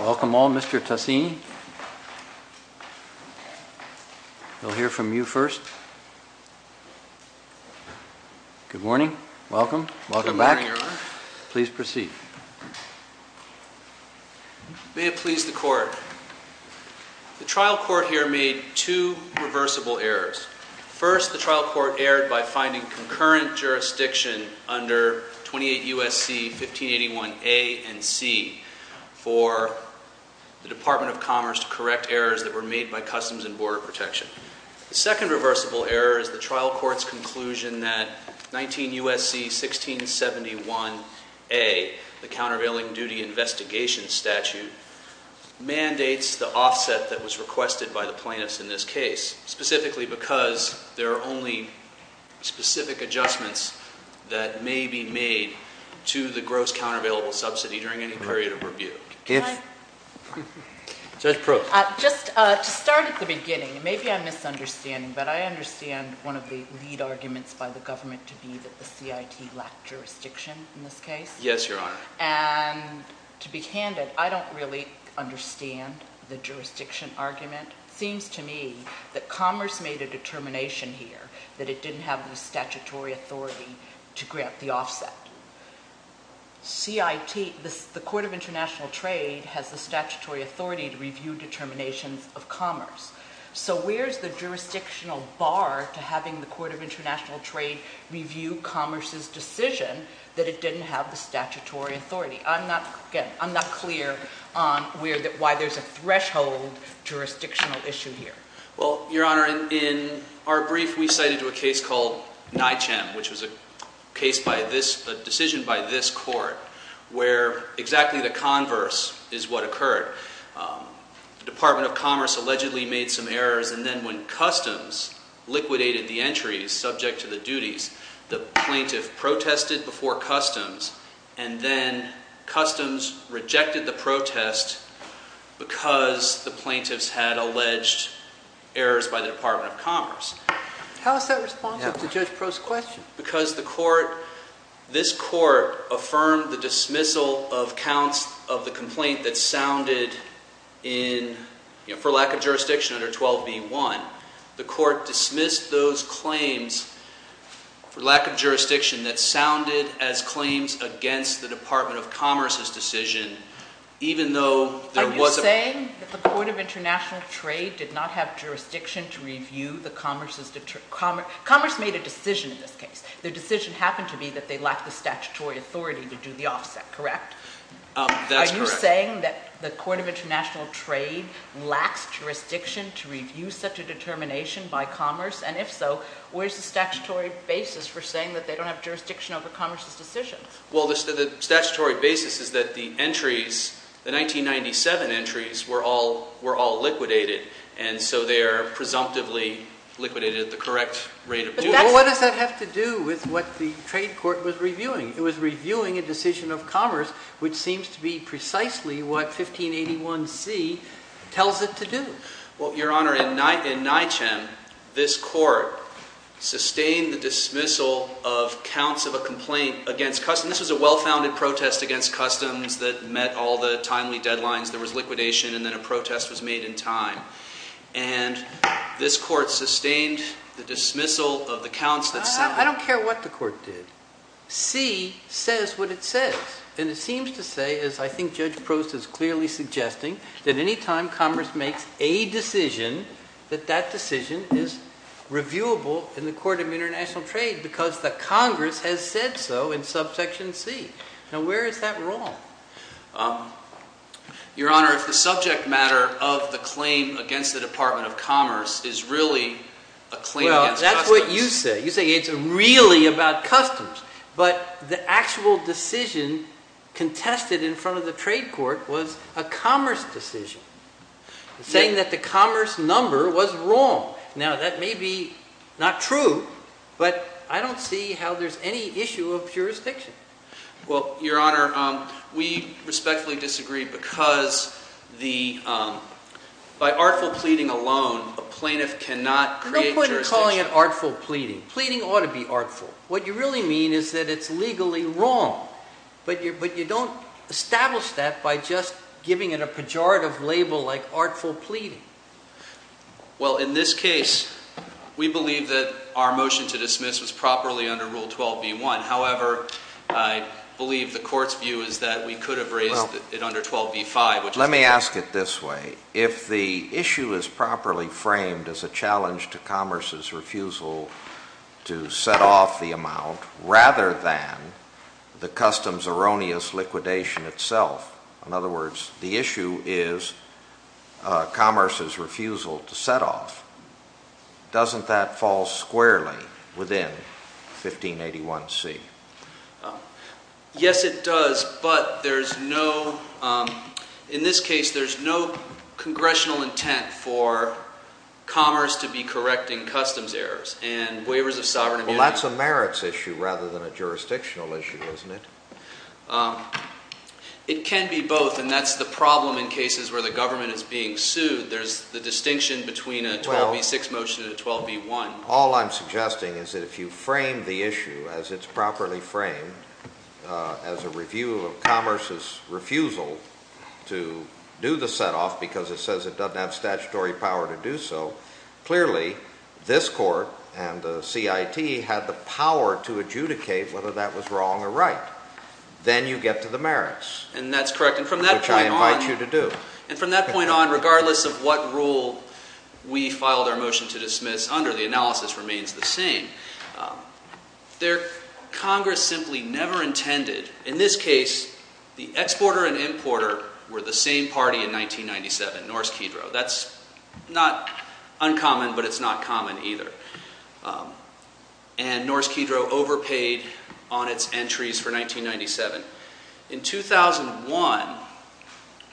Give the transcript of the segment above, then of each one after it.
Welcome all, Mr. Tussine. We'll hear from you first. Good morning. Welcome. Welcome back. Please proceed. May it please the Court. The trial court here made two reversible errors. First, the trial court erred by finding concurrent jurisdiction under 28 U.S.C. 1581 A and C for the Department of Commerce to correct errors that were made by Customs and Border Protection. The second reversible error is the trial court's conclusion that 19 U.S.C. 1671 A, the countervailing duty investigation statute, mandates the offset that was requested by the plaintiffs in this case, specifically because there are only specific adjustments that may be made to the gross countervailable subsidy during any period of review. Judge Proulx. Just to start at the beginning, maybe I'm misunderstanding, but I understand one of the lead arguments by the government to be that the CIT lacked jurisdiction in this case. Yes, Your Honor. And to be candid, I don't really understand the jurisdiction argument. It seems to me that Commerce made a determination here that it didn't have the statutory authority to grant the offset. CIT, the Court of International Trade, has the statutory authority to review determinations of Commerce. So where's the jurisdictional bar to having the Court of International Trade review Commerce's decision that it didn't have the statutory authority? Again, I'm not clear on why there's a threshold jurisdictional issue here. Well, Your Honor, in our brief, we cited a case called NyChem, which was a decision by this court where exactly the converse is what occurred. The Department of Commerce allegedly made some errors, and then when Customs liquidated the entries subject to the duties, the plaintiff protested before Customs, and then Customs rejected the protest because the plaintiffs had alleged errors by the Department of Commerce. How is that responsive to Judge Proulx's question? Because this court affirmed the dismissal of counts of the complaint that sounded for lack of jurisdiction under 12b-1. The court dismissed those claims for lack of jurisdiction that sounded as claims against the Department of Commerce's decision, even though there was a— Are you saying that the Court of International Trade did not have jurisdiction to review the Commerce's— Commerce made a decision in this case. Their decision happened to be that they lacked the statutory authority to do the offset, correct? That's correct. Are you saying that the Court of International Trade lacks jurisdiction to review such a determination by Commerce? And if so, where's the statutory basis for saying that they don't have jurisdiction over Commerce's decisions? Well, the statutory basis is that the entries, the 1997 entries, were all liquidated, and so they are presumptively liquidated at the correct rate of duty. But what does that have to do with what the trade court was reviewing? It was reviewing a decision of Commerce, which seems to be precisely what 1581c tells it to do. Well, Your Honor, in NYCHM, this court sustained the dismissal of counts of a complaint against customs. This was a well-founded protest against customs that met all the timely deadlines. There was liquidation, and then a protest was made in time. And this court sustained the dismissal of the counts that sounded— I don't care what the court did. C says what it says, and it seems to say, as I think Judge Prost is clearly suggesting, that any time Commerce makes a decision, that that decision is reviewable in the Court of International Trade because the Congress has said so in subsection C. Now, where is that wrong? Your Honor, if the subject matter of the claim against the Department of Commerce is really a claim against customs— but the actual decision contested in front of the trade court was a Commerce decision, saying that the Commerce number was wrong. Now, that may be not true, but I don't see how there's any issue of jurisdiction. Well, Your Honor, we respectfully disagree because by artful pleading alone, a plaintiff cannot create jurisdiction. There's no point in calling it artful pleading. Pleading ought to be artful. What you really mean is that it's legally wrong, but you don't establish that by just giving it a pejorative label like artful pleading. Well, in this case, we believe that our motion to dismiss was properly under Rule 12b-1. However, I believe the court's view is that we could have raised it under 12b-5. Let me ask it this way. If the issue is properly framed as a challenge to Commerce's refusal to set off the amount rather than the customs erroneous liquidation itself— in other words, the issue is Commerce's refusal to set off—doesn't that fall squarely within 1581c? Yes, it does, but there's no—in this case, there's no congressional intent for Commerce to be correcting customs errors and waivers of sovereign immunity. Well, that's a merits issue rather than a jurisdictional issue, isn't it? It can be both, and that's the problem in cases where the government is being sued. There's the distinction between a 12b-6 motion and a 12b-1. All I'm suggesting is that if you frame the issue as it's properly framed as a review of Commerce's refusal to do the setoff because it says it doesn't have statutory power to do so, clearly this court and the CIT had the power to adjudicate whether that was wrong or right. Then you get to the merits, which I invite you to do. And from that point on, regardless of what rule we filed our motion to dismiss under, the analysis remains the same. There—Congress simply never intended—in this case, the exporter and importer were the same party in 1997, Norse Kedro. That's not uncommon, but it's not common either. And Norse Kedro overpaid on its entries for 1997. In 2001,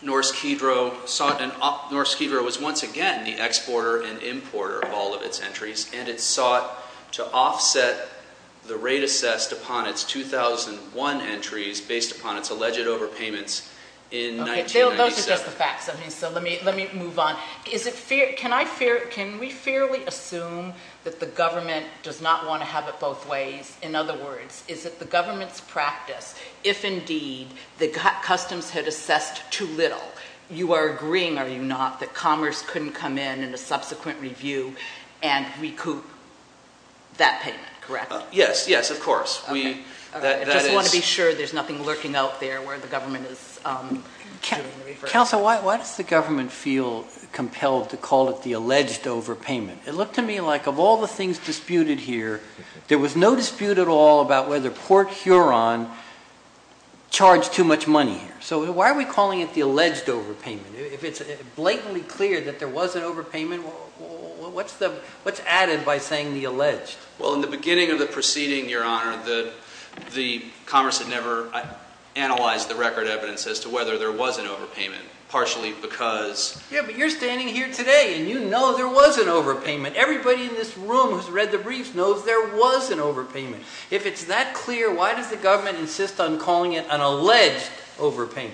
Norse Kedro was once again the exporter and importer of all of its entries, and it sought to offset the rate assessed upon its 2001 entries based upon its alleged overpayments in 1997. Those are just the facts, so let me move on. Can we fairly assume that the government does not want to have it both ways? In other words, is it the government's practice, if indeed the customs had assessed too little, you are agreeing, are you not, that commerce couldn't come in in a subsequent review and recoup that payment, correct? Yes, yes, of course. I just want to be sure there's nothing lurking out there where the government is doing the reverse. Counsel, why does the government feel compelled to call it the alleged overpayment? It looked to me like of all the things disputed here, there was no dispute at all about whether Port Huron charged too much money here. So why are we calling it the alleged overpayment? If it's blatantly clear that there was an overpayment, what's added by saying the alleged? Well, in the beginning of the proceeding, Your Honor, the commerce had never analyzed the record evidence as to whether there was an overpayment, partially because… Yeah, but you're standing here today and you know there was an overpayment. Everybody in this room who's read the brief knows there was an overpayment. If it's that clear, why does the government insist on calling it an alleged overpayment?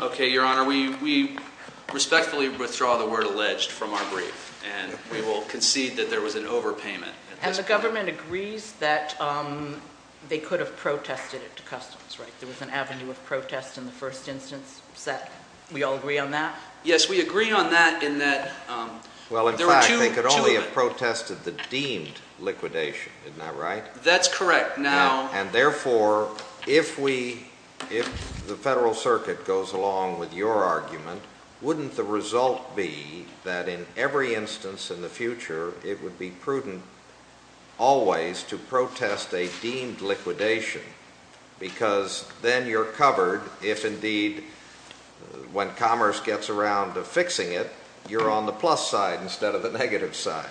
Okay, Your Honor, we respectfully withdraw the word alleged from our brief and we will concede that there was an overpayment. And the government agrees that they could have protested it to customs, right? There was an avenue of protest in the first instance. We all agree on that? Yes, we agree on that in that there were two… Well, in fact, they could only have protested the deemed liquidation, isn't that right? That's correct. And therefore, if the Federal Circuit goes along with your argument, wouldn't the result be that in every instance in the future it would be prudent always to protest a deemed liquidation? Because then you're covered if indeed when commerce gets around to fixing it, you're on the plus side instead of the negative side.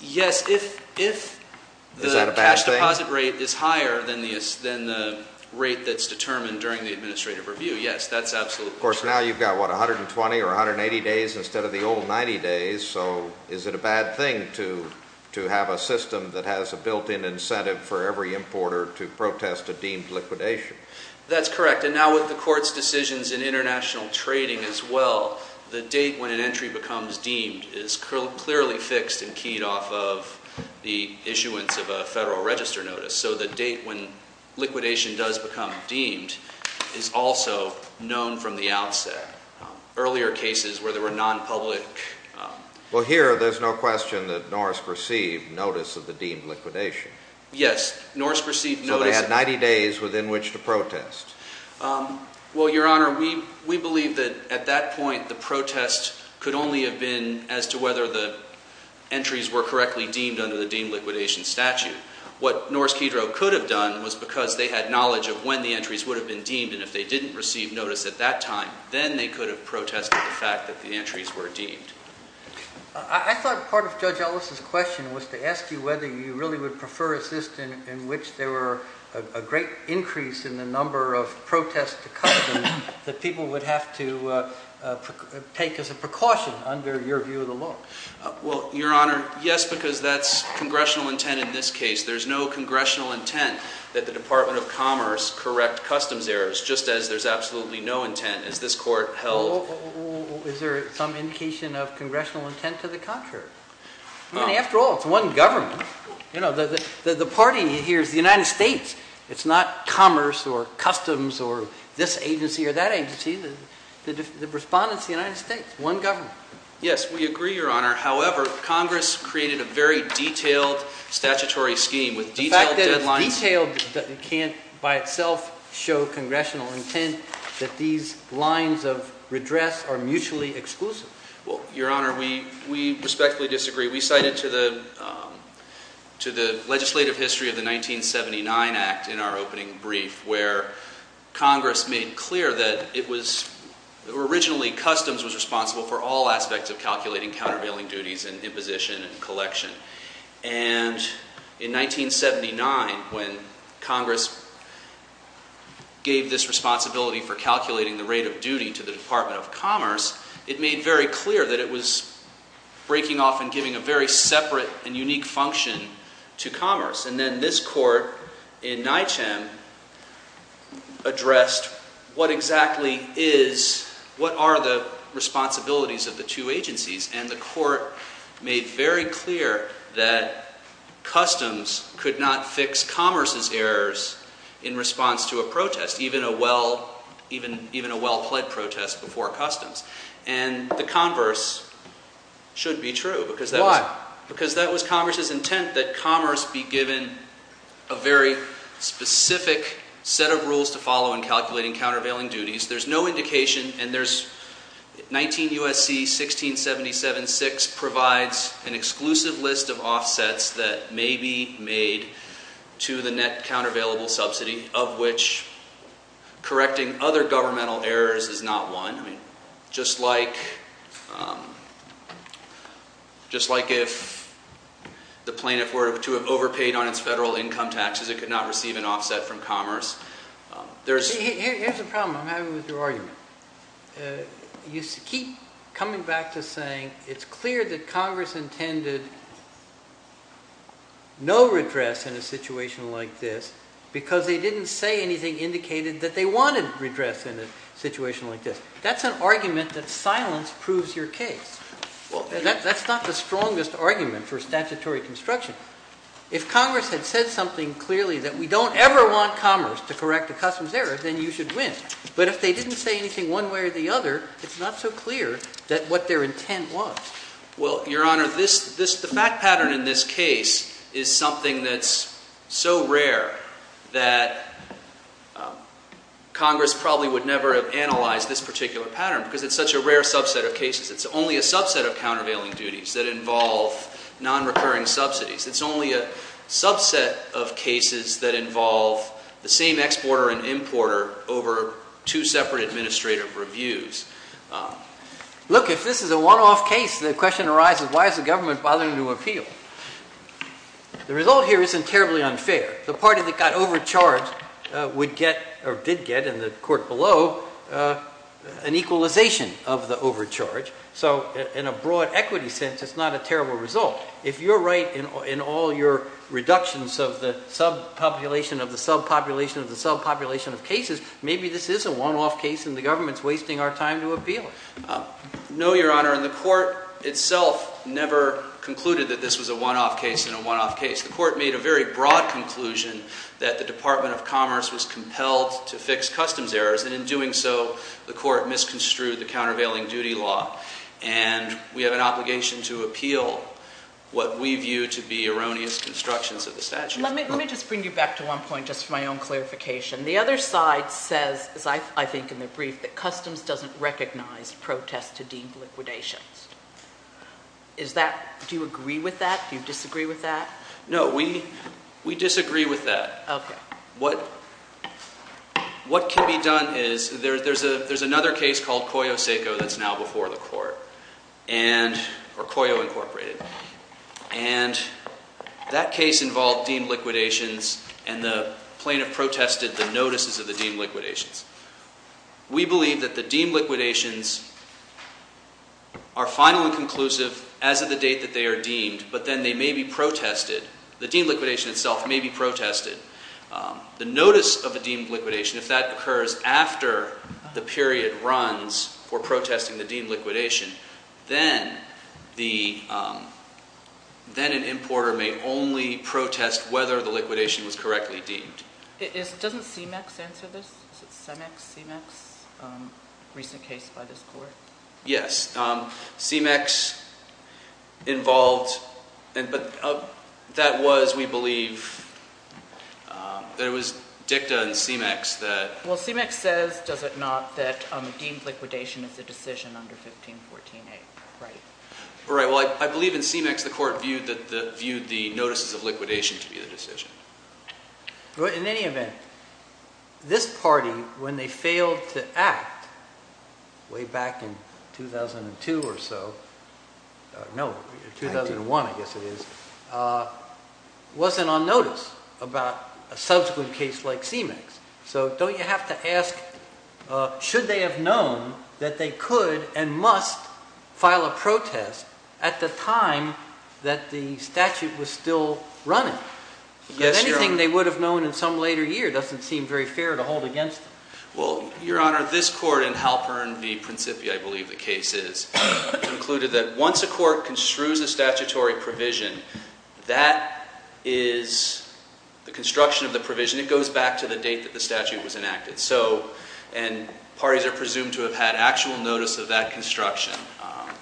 Yes, if the cash deposit rate is higher than the rate that's determined during the administrative review, yes, that's absolutely true. Of course, now you've got, what, 120 or 180 days instead of the old 90 days, so is it a bad thing to have a system that has a built-in incentive for every importer to protest a deemed liquidation? That's correct. And now with the Court's decisions in international trading as well, the date when an entry becomes deemed is clearly fixed and keyed off of the issuance of a Federal Register Notice. So the date when liquidation does become deemed is also known from the outset. Earlier cases where there were non-public— Well, here there's no question that Norse perceived notice of the deemed liquidation. Yes, Norse perceived notice— So they had 90 days within which to protest. Well, Your Honor, we believe that at that point the protest could only have been as to whether the entries were correctly deemed under the deemed liquidation statute. What Norse-Cedro could have done was because they had knowledge of when the entries would have been deemed, and if they didn't receive notice at that time, then they could have protested the fact that the entries were deemed. I thought part of Judge Ellis' question was to ask you whether you really would prefer a system in which there were a great increase in the number of protests to cover them that people would have to take as a precaution under your view of the law. Well, Your Honor, yes, because that's congressional intent in this case. There's no congressional intent that the Department of Commerce correct customs errors, just as there's absolutely no intent as this Court held— Well, is there some indication of congressional intent to the contrary? I mean, after all, it's one government. You know, the party here is the United States. It's not Commerce or Customs or this agency or that agency. The respondent is the United States, one government. Yes, we agree, Your Honor. However, Congress created a very detailed statutory scheme with detailed deadlines— The fact that it's detailed can't by itself show congressional intent that these lines of redress are mutually exclusive. Well, Your Honor, we respectfully disagree. We cited to the legislative history of the 1979 Act in our opening brief where Congress made clear that it was—originally, Customs was responsible for all aspects of calculating countervailing duties and imposition and collection. And in 1979, when Congress gave this responsibility for calculating the rate of duty to the Department of Commerce, it made very clear that it was breaking off and giving a very separate and unique function to Commerce. And then this court in NYCHAM addressed what exactly is—what are the responsibilities of the two agencies. And the court made very clear that Customs could not fix Commerce's errors in response to a protest, even a well—even a well-pled protest before Customs. And the converse should be true because that was— Why? Because Commerce be given a very specific set of rules to follow in calculating countervailing duties. There's no indication, and there's—19 U.S.C. 1677-6 provides an exclusive list of offsets that may be made to the net countervailable subsidy of which correcting other governmental errors is not one. I mean, just like—just like if the plaintiff were to have overpaid on its federal income taxes, it could not receive an offset from Commerce. There's— Here's the problem. I'm happy with your argument. You keep coming back to saying it's clear that Congress intended no redress in a situation like this because they didn't say anything indicated that they wanted redress in a situation like this. That's an argument that silence proves your case. Well, that's not the strongest argument for statutory construction. If Congress had said something clearly that we don't ever want Commerce to correct a Customs error, then you should win. But if they didn't say anything one way or the other, it's not so clear that what their intent was. Well, Your Honor, this—the fact pattern in this case is something that's so rare that Congress probably would never have analyzed this particular pattern because it's such a rare subset of cases. It's only a subset of countervailing duties that involve nonrecurring subsidies. It's only a subset of cases that involve the same exporter and importer over two separate administrative reviews. Look, if this is a one-off case, the question arises, why is the government bothering to appeal? The result here isn't terribly unfair. The party that got overcharged would get—or did get in the court below an equalization of the overcharge. So in a broad equity sense, it's not a terrible result. If you're right in all your reductions of the subpopulation of the subpopulation of the subpopulation of cases, maybe this is a one-off case and the government's wasting our time to appeal it. No, Your Honor, and the court itself never concluded that this was a one-off case and a one-off case. The court made a very broad conclusion that the Department of Commerce was compelled to fix Customs errors. And in doing so, the court misconstrued the countervailing duty law. And we have an obligation to appeal what we view to be erroneous constructions of the statute. Let me just bring you back to one point just for my own clarification. The other side says, as I think in the brief, that Customs doesn't recognize protests to deemed liquidations. Is that—do you agree with that? Do you disagree with that? No, we disagree with that. Okay. What can be done is there's another case called Coyo-Seco that's now before the court, or Coyo, Incorporated. And that case involved deemed liquidations, and the plaintiff protested the notices of the deemed liquidations. We believe that the deemed liquidations are final and conclusive as of the date that they are deemed, but then they may be protested. The deemed liquidation itself may be protested. The notice of the deemed liquidation, if that occurs after the period runs for protesting the deemed liquidation, then an importer may only protest whether the liquidation was correctly deemed. Doesn't CMEX answer this? Is it CMEX, CMEX, a recent case by this court? Yes. CMEX involved—but that was, we believe, that it was dicta in CMEX that— Well, CMEX says, does it not, that deemed liquidation is a decision under 1514a, right? Right. Well, I believe in CMEX the court viewed the notices of liquidation to be the decision. In any event, this party, when they failed to act way back in 2002 or so, no, 2001 I guess it is, wasn't on notice about a subsequent case like CMEX. So don't you have to ask, should they have known that they could and must file a protest at the time that the statute was still running? If anything, they would have known in some later year. It doesn't seem very fair to hold against them. Well, Your Honor, this court in Halpern v. Principia, I believe the case is, concluded that once a court construes a statutory provision, that is the construction of the provision. It goes back to the date that the statute was enacted. So, and parties are presumed to have had actual notice of that construction.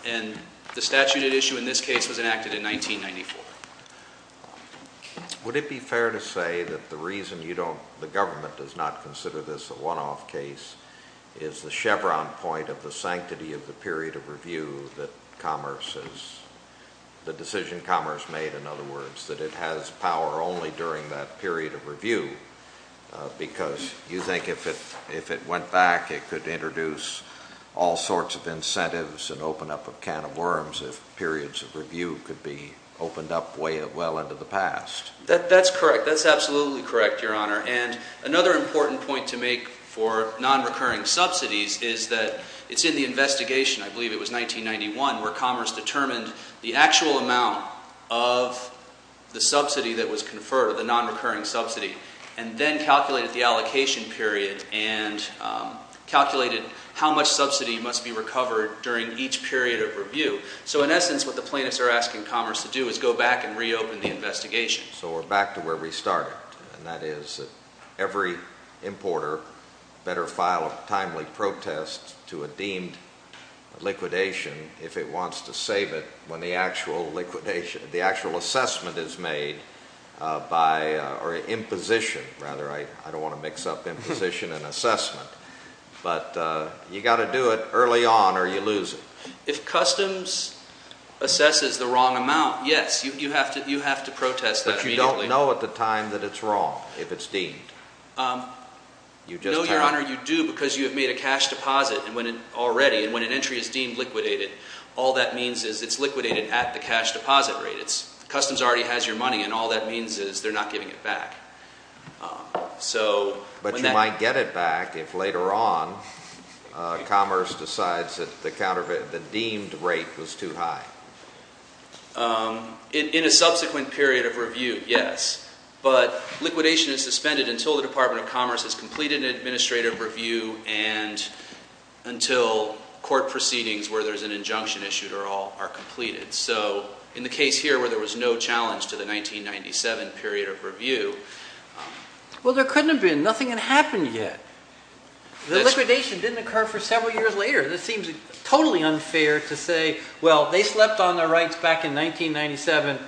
And the statute at issue in this case was enacted in 1994. Would it be fair to say that the reason you don't, the government does not consider this a one-off case is the chevron point of the sanctity of the period of review that commerce has, the decision commerce made, in other words, that it has power only during that period of review because you think if it went back, it could introduce all sorts of incentives and open up a can of worms if periods of review could be opened up well into the past. That's correct. That's absolutely correct, Your Honor. And another important point to make for non-recurring subsidies is that it's in the investigation, I believe it was 1991, where commerce determined the actual amount of the subsidy that was conferred, the non-recurring subsidy, and then calculated the allocation period and calculated how much subsidy must be recovered during each period of review. So in essence, what the plaintiffs are asking commerce to do is go back and reopen the investigation. So we're back to where we started, and that is that every importer better file a timely protest to a deemed liquidation if it wants to save it when the actual liquidation, the actual assessment is made by, or imposition, rather. I don't want to mix up imposition and assessment, but you've got to do it early on or you lose it. If customs assesses the wrong amount, yes, you have to protest that immediately. But you don't know at the time that it's wrong if it's deemed. No, Your Honor, you do because you have made a cash deposit already, and when an entry is deemed liquidated, all that means is it's liquidated at the cash deposit rate. Customs already has your money, and all that means is they're not giving it back. But you might get it back if later on commerce decides that the deemed rate was too high. In a subsequent period of review, yes. But liquidation is suspended until the Department of Commerce has completed an administrative review and until court proceedings where there's an injunction issued are all completed. So in the case here where there was no challenge to the 1997 period of review. Well, there couldn't have been. Nothing had happened yet. The liquidation didn't occur for several years later. That seems totally unfair to say, well, they slept on their rights back in 1997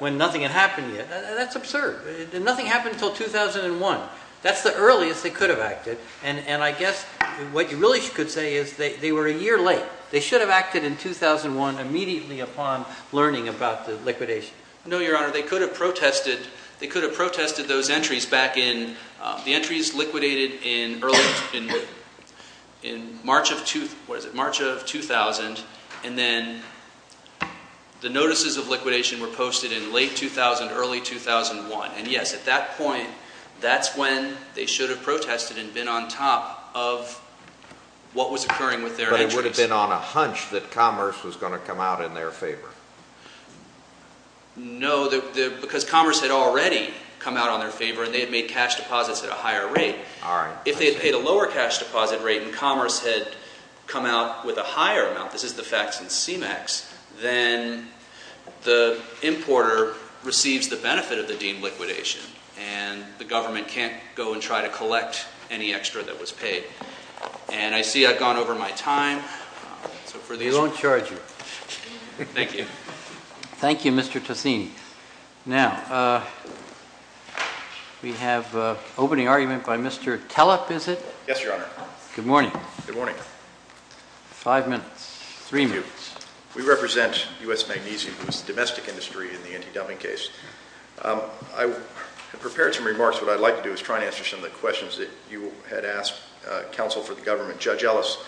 when nothing had happened yet. That's absurd. Nothing happened until 2001. That's the earliest they could have acted. And I guess what you really could say is they were a year late. They should have acted in 2001 immediately upon learning about the liquidation. No, Your Honor, they could have protested those entries back in the entries liquidated in March of 2000, and then the notices of liquidation were posted in late 2000, early 2001. And, yes, at that point, that's when they should have protested and been on top of what was occurring with their entries. But it would have been on a hunch that Commerce was going to come out in their favor. No, because Commerce had already come out on their favor and they had made cash deposits at a higher rate. All right. If they had paid a lower cash deposit rate and Commerce had come out with a higher amount, this is the facts in CMEX, then the importer receives the benefit of the deemed liquidation and the government can't go and try to collect any extra that was paid. And I see I've gone over my time. They won't charge you. Thank you. Thank you, Mr. Tocini. Now, we have an opening argument by Mr. Kellep, is it? Yes, Your Honor. Good morning. Good morning. Five minutes. Three minutes. We represent U.S. Magnesium. It's the domestic industry in the anti-dumping case. I prepared some remarks. What I'd like to do is try and answer some of the questions that you had asked counsel for the government, Judge Ellis.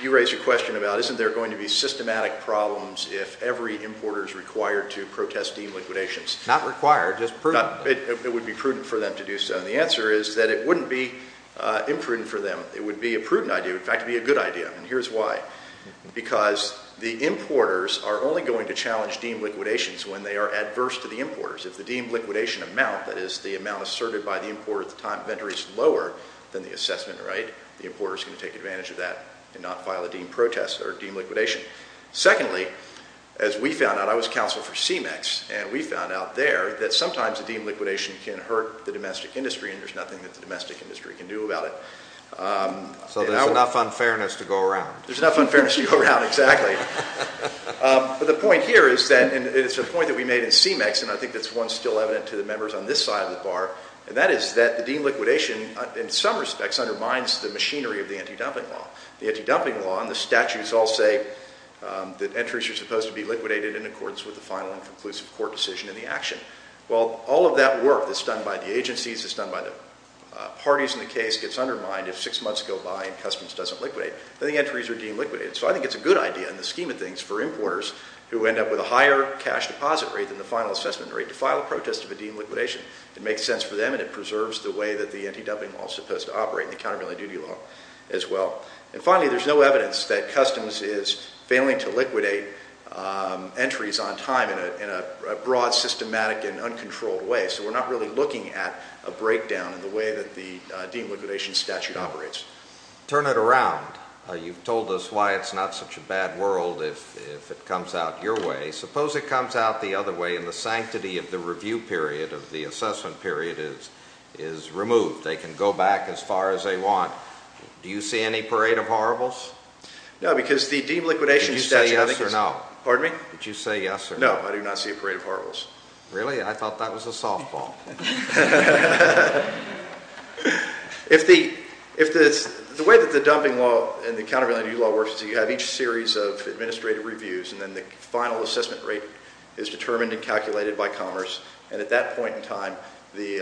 You raised a question about isn't there going to be systematic problems if every importer is required to protest deemed liquidations? Not required, just prudent. It would be prudent for them to do so. And the answer is that it wouldn't be imprudent for them. It would be a prudent idea. In fact, it would be a good idea. And here's why. Because the importers are only going to challenge deemed liquidations when they are adverse to the importers. If the deemed liquidation amount, that is, the amount asserted by the importer at the time of entry is lower than the assessment rate, the importer is going to take advantage of that and not file a deemed protest or deemed liquidation. Secondly, as we found out, I was counsel for CMEX, and we found out there that sometimes a deemed liquidation can hurt the domestic industry, and there's nothing that the domestic industry can do about it. So there's enough unfairness to go around. There's enough unfairness to go around, exactly. But the point here is that, and it's a point that we made in CMEX, and I think that's one still evident to the members on this side of the bar, and that is that the deemed liquidation, in some respects, undermines the machinery of the anti-dumping law. The anti-dumping law and the statutes all say that entries are supposed to be liquidated in accordance with the final and conclusive court decision and the action. Well, all of that work that's done by the agencies, that's done by the parties in the case, gets undermined if six months go by and customs doesn't liquidate. Then the entries are deemed liquidated. So I think it's a good idea in the scheme of things for importers who end up with a higher cash deposit rate than the final assessment rate to file a protest of a deemed liquidation. It makes sense for them, and it preserves the way that the anti-dumping law is supposed to operate and the countervailing duty law as well. And finally, there's no evidence that customs is failing to liquidate entries on time in a broad, systematic, and uncontrolled way. So we're not really looking at a breakdown in the way that the deemed liquidation statute operates. Turn it around. You've told us why it's not such a bad world if it comes out your way. Suppose it comes out the other way and the sanctity of the review period, of the assessment period, is removed. They can go back as far as they want. Do you see any parade of horribles? No, because the deemed liquidation statute is... Did you say yes or no? Pardon me? Did you say yes or no? No, I do not see a parade of horribles. Really? I thought that was a softball. If the way that the dumping law and the countervailing duty law works is you have each series of administrative reviews, and then the final assessment rate is determined and calculated by commerce, and at that point in time the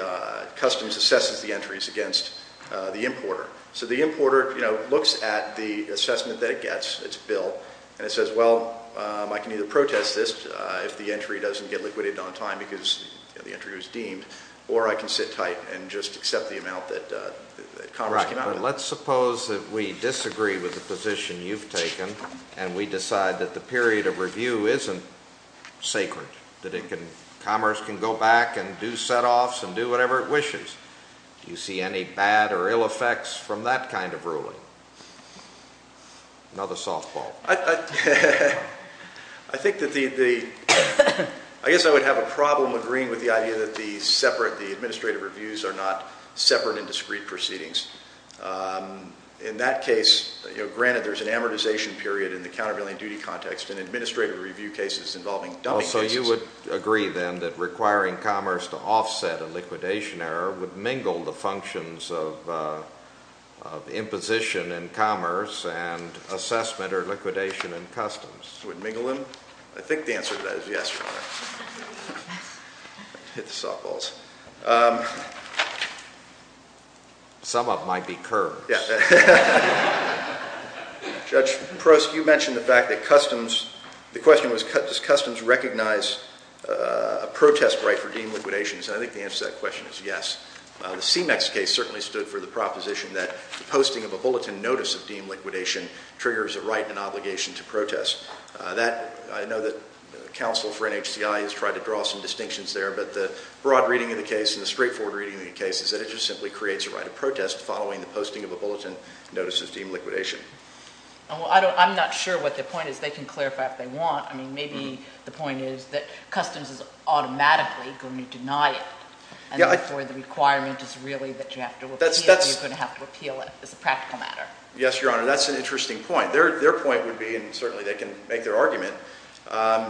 customs assesses the entries against the importer. So the importer looks at the assessment that it gets, its bill, and it says, well, I can either protest this if the entry doesn't get liquidated on time because the entry was deemed, or I can sit tight and just accept the amount that commerce came out of it. Right, but let's suppose that we disagree with the position you've taken and we decide that the period of review isn't sacred, that commerce can go back and do setoffs and do whatever it wishes. Do you see any bad or ill effects from that kind of ruling? Another softball. I think that the... I guess I would have a problem agreeing with the idea that the separate, the administrative reviews are not separate and discrete proceedings. In that case, granted there's an amortization period in the countervailing duty context and administrative review cases involving... So you would agree then that requiring commerce to offset a liquidation error would mingle the functions of imposition in commerce and assessment or liquidation in customs? Would mingle them? I think the answer to that is yes, Your Honor. Hit the softballs. Some of them might be curves. Judge Prost, you mentioned the fact that customs, the question was does customs recognize a protest right for deemed liquidations? I think the answer to that question is yes. The CMEX case certainly stood for the proposition that the posting of a bulletin notice of deemed liquidation triggers a right and an obligation to protest. I know that counsel for NHCI has tried to draw some distinctions there, but the broad reading of the case and the straightforward reading of the case is that it just simply creates a right of protest following the posting of a bulletin notice of deemed liquidation. I'm not sure what the point is. They can clarify if they want. Maybe the point is that customs is automatically going to deny it and therefore the requirement is really that you have to repeal it. You're going to have to repeal it. It's a practical matter. Yes, Your Honor. That's an interesting point. Their point would be, and certainly they can make their argument,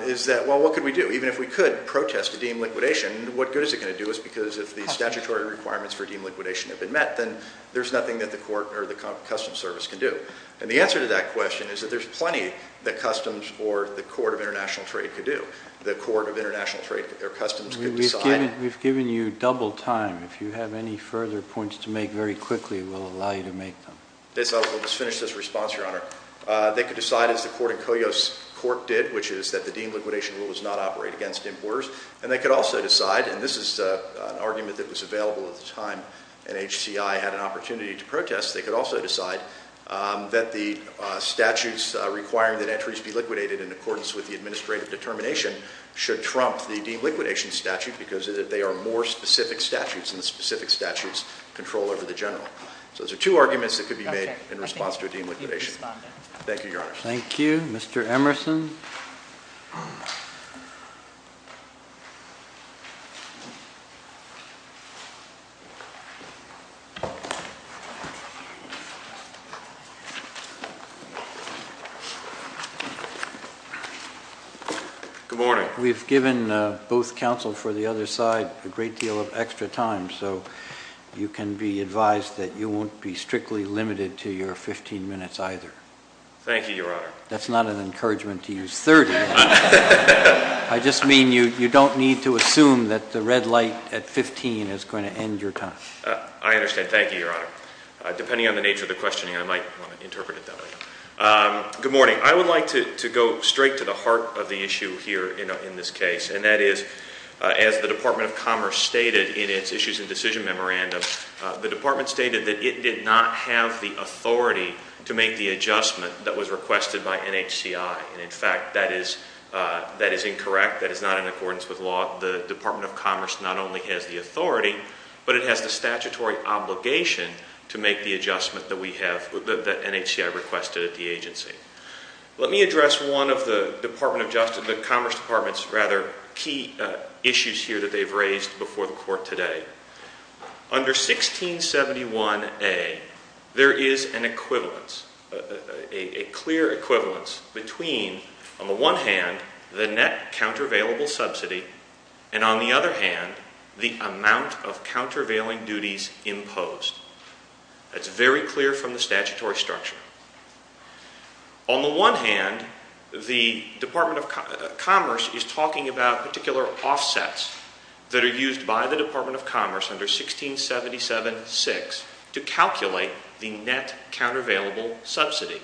is that well, what could we do? Even if we could protest a deemed liquidation, what good is it going to do us because if the statutory requirements for deemed liquidation have been met, then there's nothing that the court or the customs service can do. And the answer to that question is that there's plenty that customs or the court of international trade could do. The court of international trade or customs could decide. We've given you double time. If you have any further points to make very quickly, we'll allow you to make them. Let's finish this response, Your Honor. They could decide as the court in Coyos Court did, which is that the deemed liquidation rule does not operate against importers, and they could also decide, and this is an argument that was available at the time NHCI had an opportunity to protest, they could also decide that the statutes requiring that entries be liquidated in accordance with the administrative determination should trump the deemed liquidation statute because they are more specific statutes, and the specific statutes control over the general. So those are two arguments that could be made in response to a deemed liquidation. Thank you, Your Honor. Thank you. Mr. Emerson? Good morning. We've given both counsel for the other side a great deal of extra time, so you can be advised that you won't be strictly limited to your 15 minutes either. Thank you, Your Honor. That's not an encouragement to use 30. I just mean you don't need to assume that the rest of the time is going to be limited to your 15 minutes either. Thank you, Your Honor. The red light at 15 is going to end your time. I understand. Thank you, Your Honor. Depending on the nature of the questioning, I might want to interpret it that way. Good morning. I would like to go straight to the heart of the issue here in this case, and that is as the Department of Commerce stated in its Issues and Decision Memorandum, the Department stated that it did not have the authority to make the adjustment that was requested by NHCI. In fact, that is incorrect. That is not in accordance with law. The Department of Commerce not only has the authority, but it has the statutory obligation to make the adjustment that NHCI requested at the agency. Let me address one of the Commerce Department's rather key issues here that they've raised before the Court today. Under 1671A, there is an equivalence, a clear equivalence between, on the one hand, the net countervailable subsidy and, on the other hand, the amount of countervailing duties imposed. That's very clear from the statutory structure. On the one hand, the Department of Commerce is talking about particular offsets that are used by the Department of Commerce under 1677-6 to calculate the net countervailable subsidy.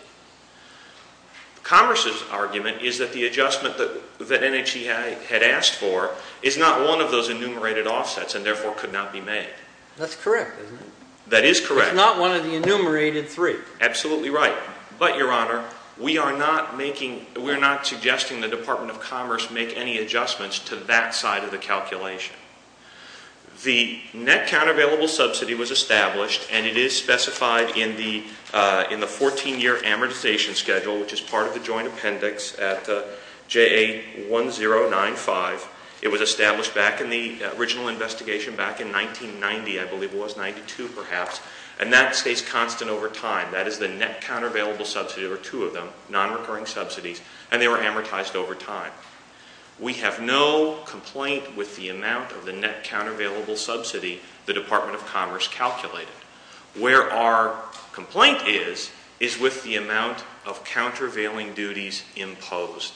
Commerce's argument is that the adjustment that NHCI had asked for is not one of those enumerated offsets and, therefore, could not be made. That's correct, isn't it? That is correct. It's not one of the enumerated three. Absolutely right. But, Your Honor, we are not suggesting the Department of Commerce make any adjustments to that side of the calculation. The net countervailable subsidy was established and it is specified in the 14-year amortization schedule, which is part of the joint appendix at JA1095. It was established back in the original investigation back in 1990, I believe it was, 1992 perhaps, and that stays constant over time. That is the net countervailable subsidy, or two of them, nonrecurring subsidies, and they were amortized over time. We have no complaint with the amount of the net countervailable subsidy the Department of Commerce calculated. Where our complaint is, is with the amount of countervailing duties imposed.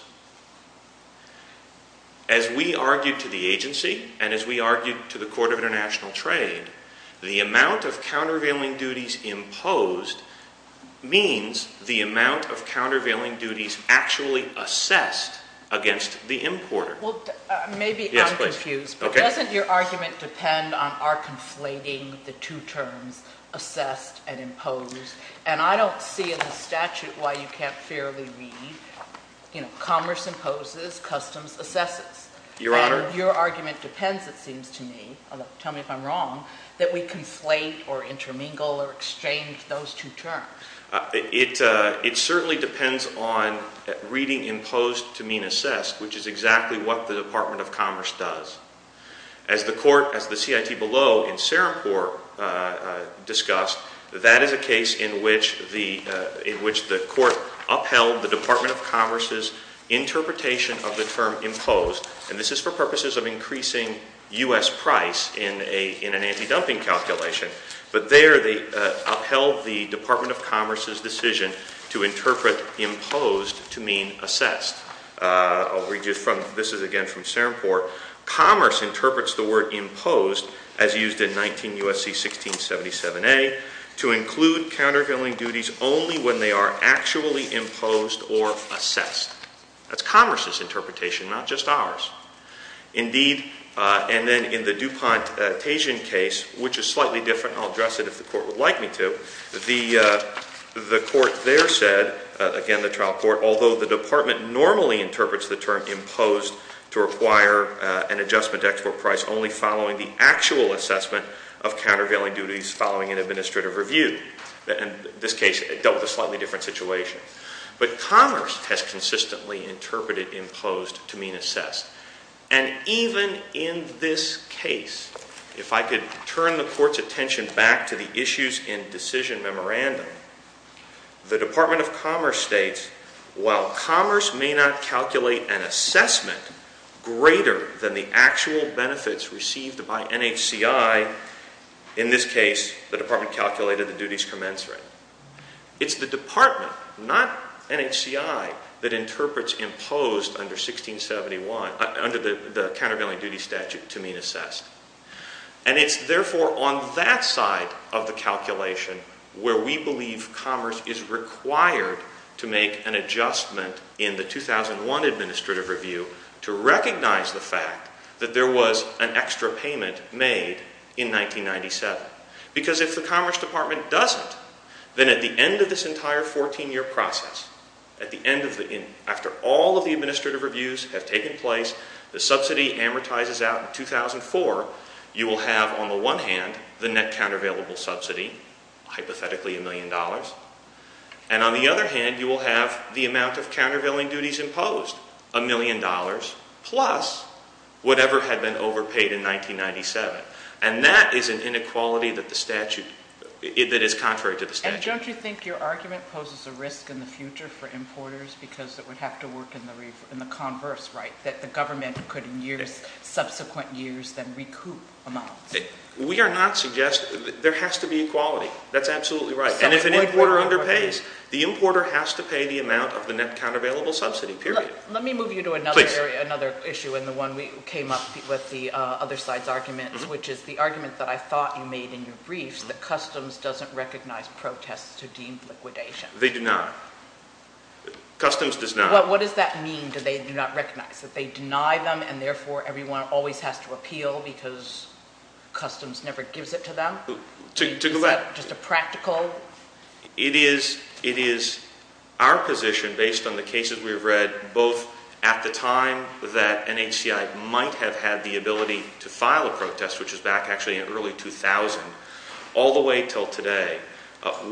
As we argued to the agency and as we argued to the Court of International Trade, the amount of countervailing duties imposed means the amount of countervailing duties actually assessed against the importer. Well, maybe I'm confused, but doesn't your argument depend on our conflating the two terms assessed and imposed? And I don't see in the statute why you can't fairly read, you know, commerce imposes, customs assesses. Your Honor? And your argument depends, it seems to me, tell me if I'm wrong, that we conflate or intermingle or exchange those two terms. It certainly depends on reading imposed to mean assessed, which is exactly what the Department of Commerce does. As the court, as the CIT below in Serampore discussed, that is a case in which the court upheld the Department of Commerce's interpretation of the term imposed, and this is for purposes of increasing U.S. price in an anti-dumping calculation, but there they upheld the Department of Commerce's decision to interpret imposed to mean assessed. I'll read you from, this is again from Serampore, commerce interprets the word imposed as used in 19 U.S.C. 1677A to include countervailing duties only when they are actually imposed or assessed. That's commerce's interpretation, not just ours. Indeed, and then in the DuPont-Tajian case, which is slightly different, I'll address it if the court would like me to, the court there said, again the trial court, although the department normally interprets the term imposed to require an adjustment to export price only following the actual assessment of countervailing duties following an administrative review. In this case, it dealt with a slightly different situation. But commerce has consistently interpreted imposed to mean assessed. And even in this case, if I could turn the court's attention back to the issues in decision memorandum, the Department of Commerce states, while commerce may not calculate an assessment greater than the actual benefits received by NHCI, in this case, the department calculated the duties commensurate. It's the department, not NHCI, that interprets imposed under 1671, under the countervailing duty statute, to mean assessed. And it's therefore on that side of the calculation where we believe commerce is required to make an adjustment in the 2001 administrative review to recognize the fact that there was an extra payment made in 1997. Because if the Commerce Department doesn't, then at the end of this entire 14-year process, at the end of the, after all of the administrative reviews have taken place, the subsidy amortizes out in 2004, you will have, on the one hand, the net countervailable subsidy, hypothetically a million dollars. And on the other hand, you will have the amount of countervailing duties imposed, a million dollars, plus whatever had been overpaid in 1997. And that is an inequality that the statute, that is contrary to the statute. And don't you think your argument poses a risk in the future for importers because it would have to work in the converse, right, that the government could in years, subsequent years, then recoup amounts? We are not suggesting, there has to be equality. That's absolutely right. And if an importer underpays, the importer has to pay the amount of the net countervailable subsidy, period. Let me move you to another issue and the one we came up with the other side's argument, which is the argument that I thought you made in your briefs, that customs doesn't recognize protests who deem liquidation. They do not. Customs does not. What does that mean, that they do not recognize, that they deny them and therefore everyone always has to appeal because customs never gives it to them? To the left. Is that just a practical? It is our position, based on the cases we've read, both at the time that NHCI might have had the ability to file a protest, which is back actually in early 2000, all the way until today,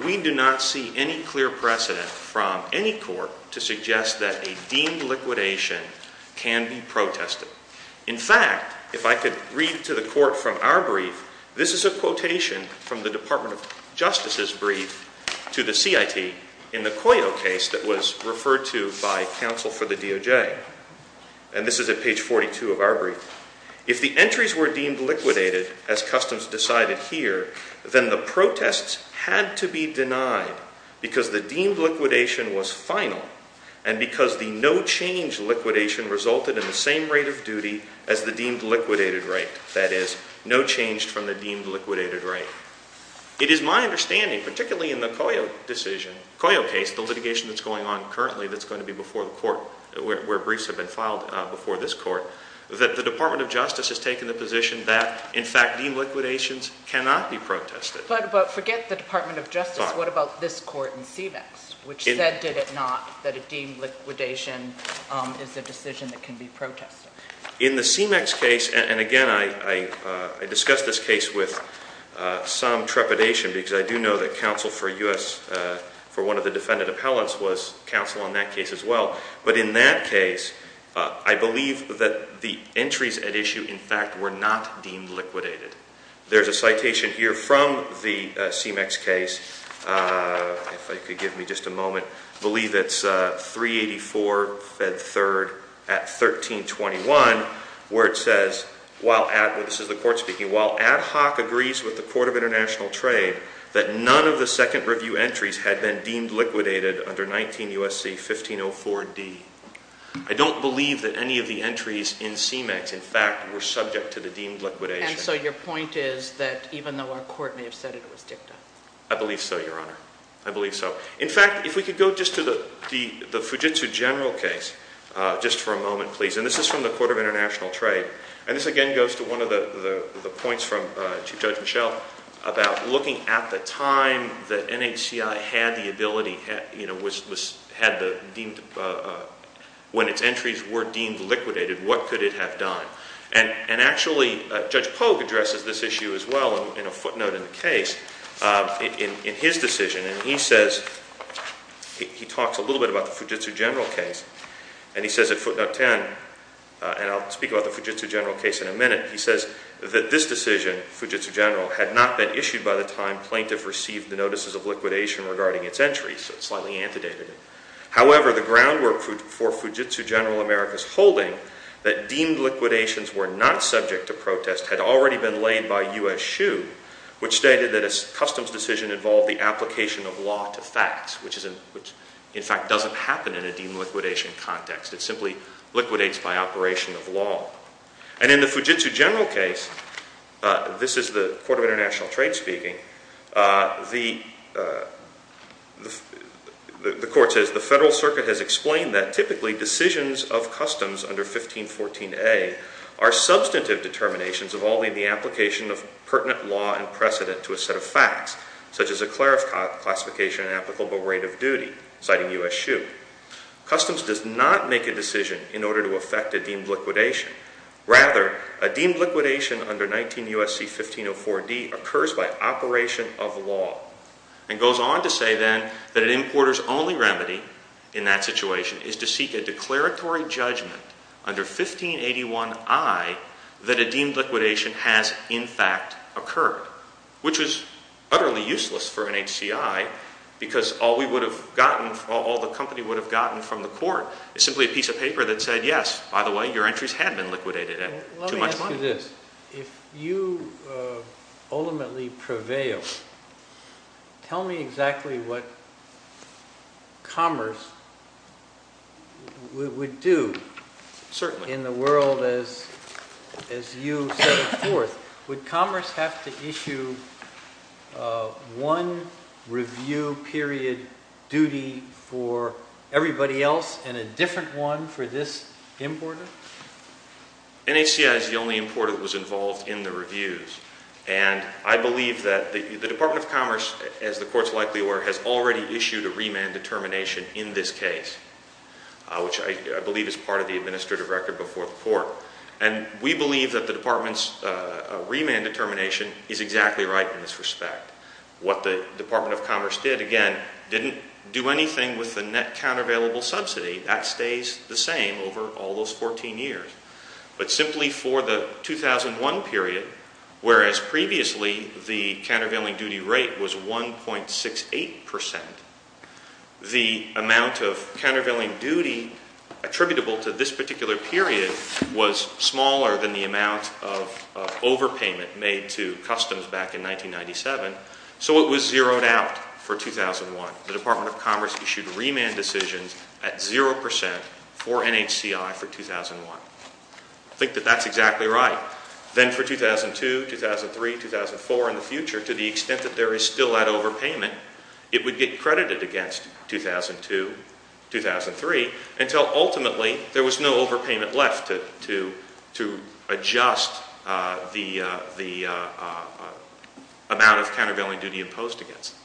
we do not see any clear precedent from any court to suggest that a deemed liquidation can be protested. In fact, if I could read to the court from our brief, this is a quotation from the Department of Justice's brief to the CIT in the Coyo case that was referred to by counsel for the DOJ, and this is at page 42 of our brief. If the entries were deemed liquidated, as customs decided here, then the protests had to be denied because the deemed liquidation was final and because the no change liquidation resulted in the same rate of duty as the deemed liquidated rate, that is, no change from the deemed liquidated rate. It is my understanding, particularly in the Coyo decision, Coyo case, the litigation that's going on currently that's going to be before the court where briefs have been filed before this court, that the Department of Justice has taken the position that, in fact, deemed liquidations cannot be protested. But forget the Department of Justice. What about this court in CMEX, which said, did it not, that a deemed liquidation is a decision that can be protested? In the CMEX case, and again, I discussed this case with some trepidation because I do know that counsel for one of the defendant appellants was counsel on that case as well. But in that case, I believe that the entries at issue, in fact, were not deemed liquidated. There's a citation here from the CMEX case, if you could give me just a moment. I believe it's 384 Fed 3rd at 1321, where it says, this is the court speaking, while ad hoc agrees with the Court of International Trade that none of the second review entries had been deemed liquidated under 19 U.S.C. 1504D. I don't believe that any of the entries in CMEX, in fact, were subject to the deemed liquidation. And so your point is that even though our court may have said it was dicta? I believe so, Your Honor. I believe so. In fact, if we could go just to the Fujitsu General case, just for a moment, please. And this is from the Court of International Trade. And this, again, goes to one of the points from Chief Judge Mischel about looking at the time that NHCI had the ability, you know, when its entries were deemed liquidated, what could it have done? And actually, Judge Pogue addresses this issue as well in a footnote in the case in his decision. And he says, he talks a little bit about the Fujitsu General case. And he says at footnote 10, and I'll speak about the Fujitsu General case in a minute, he says that this decision, Fujitsu General, had not been issued by the time plaintiff received the notices of liquidation regarding its entries. So it's slightly antedated. However, the groundwork for Fujitsu General America's holding that deemed liquidations were not subject to protest had already been laid by U.S. SHU, which stated that a customs decision involved the application of law to facts, which in fact doesn't happen in a deemed liquidation context. It simply liquidates by operation of law. And in the Fujitsu General case, this is the Court of International Trade speaking, the court says, the Federal Circuit has explained that typically decisions of customs under 1514A are substantive determinations involving the application of pertinent law and precedent to a set of facts, such as a clarification and applicable rate of duty, citing U.S. SHU. Customs does not make a decision in order to affect a deemed liquidation. Rather, a deemed liquidation under 19 U.S.C. 1504D occurs by operation of law. And goes on to say then that an importer's only remedy in that situation is to seek a declaratory judgment under 1581I that a deemed liquidation has in fact occurred, which is utterly useless for an HCI because all we would have gotten, all the company would have gotten from the court is simply a piece of paper that said, yes, by the way, your entries had been liquidated at too much money. Let me ask you this. If you ultimately prevail, tell me exactly what commerce would do in the world as you set forth. Would commerce have to issue one review period duty for everybody else and a different one for this importer? NHCI is the only importer that was involved in the reviews. And I believe that the Department of Commerce, as the court is likely aware, has already issued a remand determination in this case, which I believe is part of the administrative record before the court. And we believe that the department's remand determination is exactly right in this respect. What the Department of Commerce did, again, didn't do anything with the net countervailable subsidy. That stays the same over all those 14 years. But simply for the 2001 period, whereas previously the countervailing duty rate was 1.68 percent, the amount of countervailing duty attributable to this particular period was smaller than the amount of overpayment made to customs back in 1997, so it was zeroed out for 2001. The Department of Commerce issued remand decisions at zero percent for NHCI for 2001. I think that that's exactly right. Then for 2002, 2003, 2004, and the future, to the extent that there is still that overpayment, it would get credited against 2002, 2003, until ultimately there was no overpayment left to adjust the amount of countervailing duty imposed against it.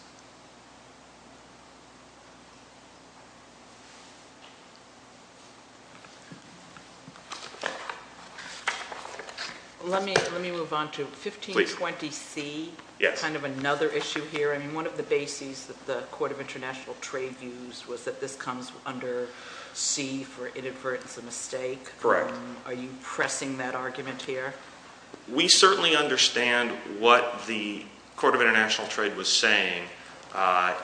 Let me move on to 1520C, kind of another issue here. One of the bases that the Court of International Trade used was that this comes under C for inadvertence and mistake. Correct. Are you pressing that argument here? We certainly understand what the Court of International Trade was saying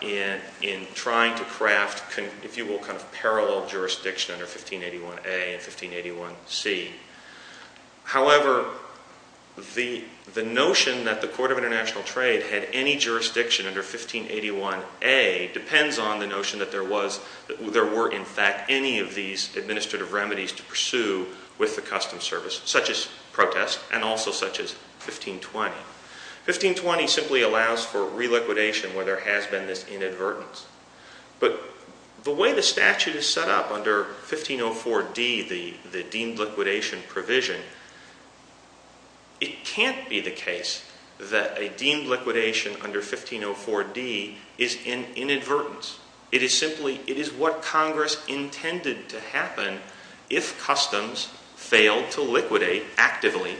in trying to craft, if you will, kind of parallel jurisdiction under 1581A and 1581C. However, the notion that the Court of International Trade had any jurisdiction under 1581A depends on the notion that there were, in fact, any of these administrative remedies to pursue with the Customs Service, such as protest and also such as 1520. 1520 simply allows for reliquidation where there has been this inadvertence. But the way the statute is set up under 1504D, the deemed liquidation provision, it can't be the case that a deemed liquidation under 1504D is in inadvertence. It is simply what Congress intended to happen if customs failed to liquidate actively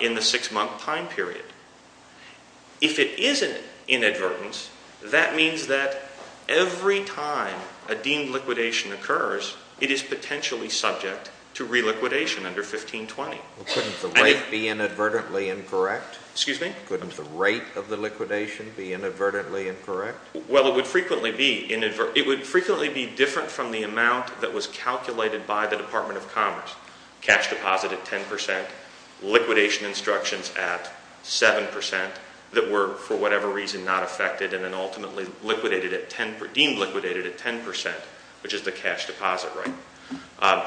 in the six-month time period. If it is in inadvertence, that means that every time a deemed liquidation occurs, it is potentially subject to reliquidation under 1520. Couldn't the rate be inadvertently incorrect? Excuse me? Couldn't the rate of the liquidation be inadvertently incorrect? Well, it would frequently be different from the amount that was calculated by the Department of Commerce. Cash deposit at 10 percent, liquidation instructions at 7 percent that were, for whatever reason, not affected, and then ultimately deemed liquidated at 10 percent, which is the cash deposit rate.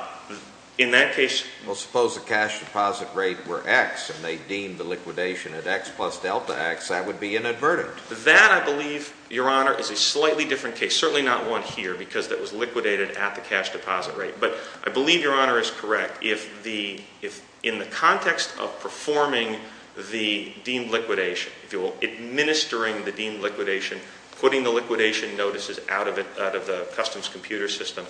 In that case... Well, suppose the cash deposit rate were X and they deemed the liquidation at X plus delta X, that would be inadvertent. That, I believe, Your Honor, is a slightly different case, certainly not one here, because that was liquidated at the cash deposit rate. But I believe Your Honor is correct. If in the context of performing the deemed liquidation, if you will, administering the deemed liquidation, putting the liquidation notices out of the customs computer system,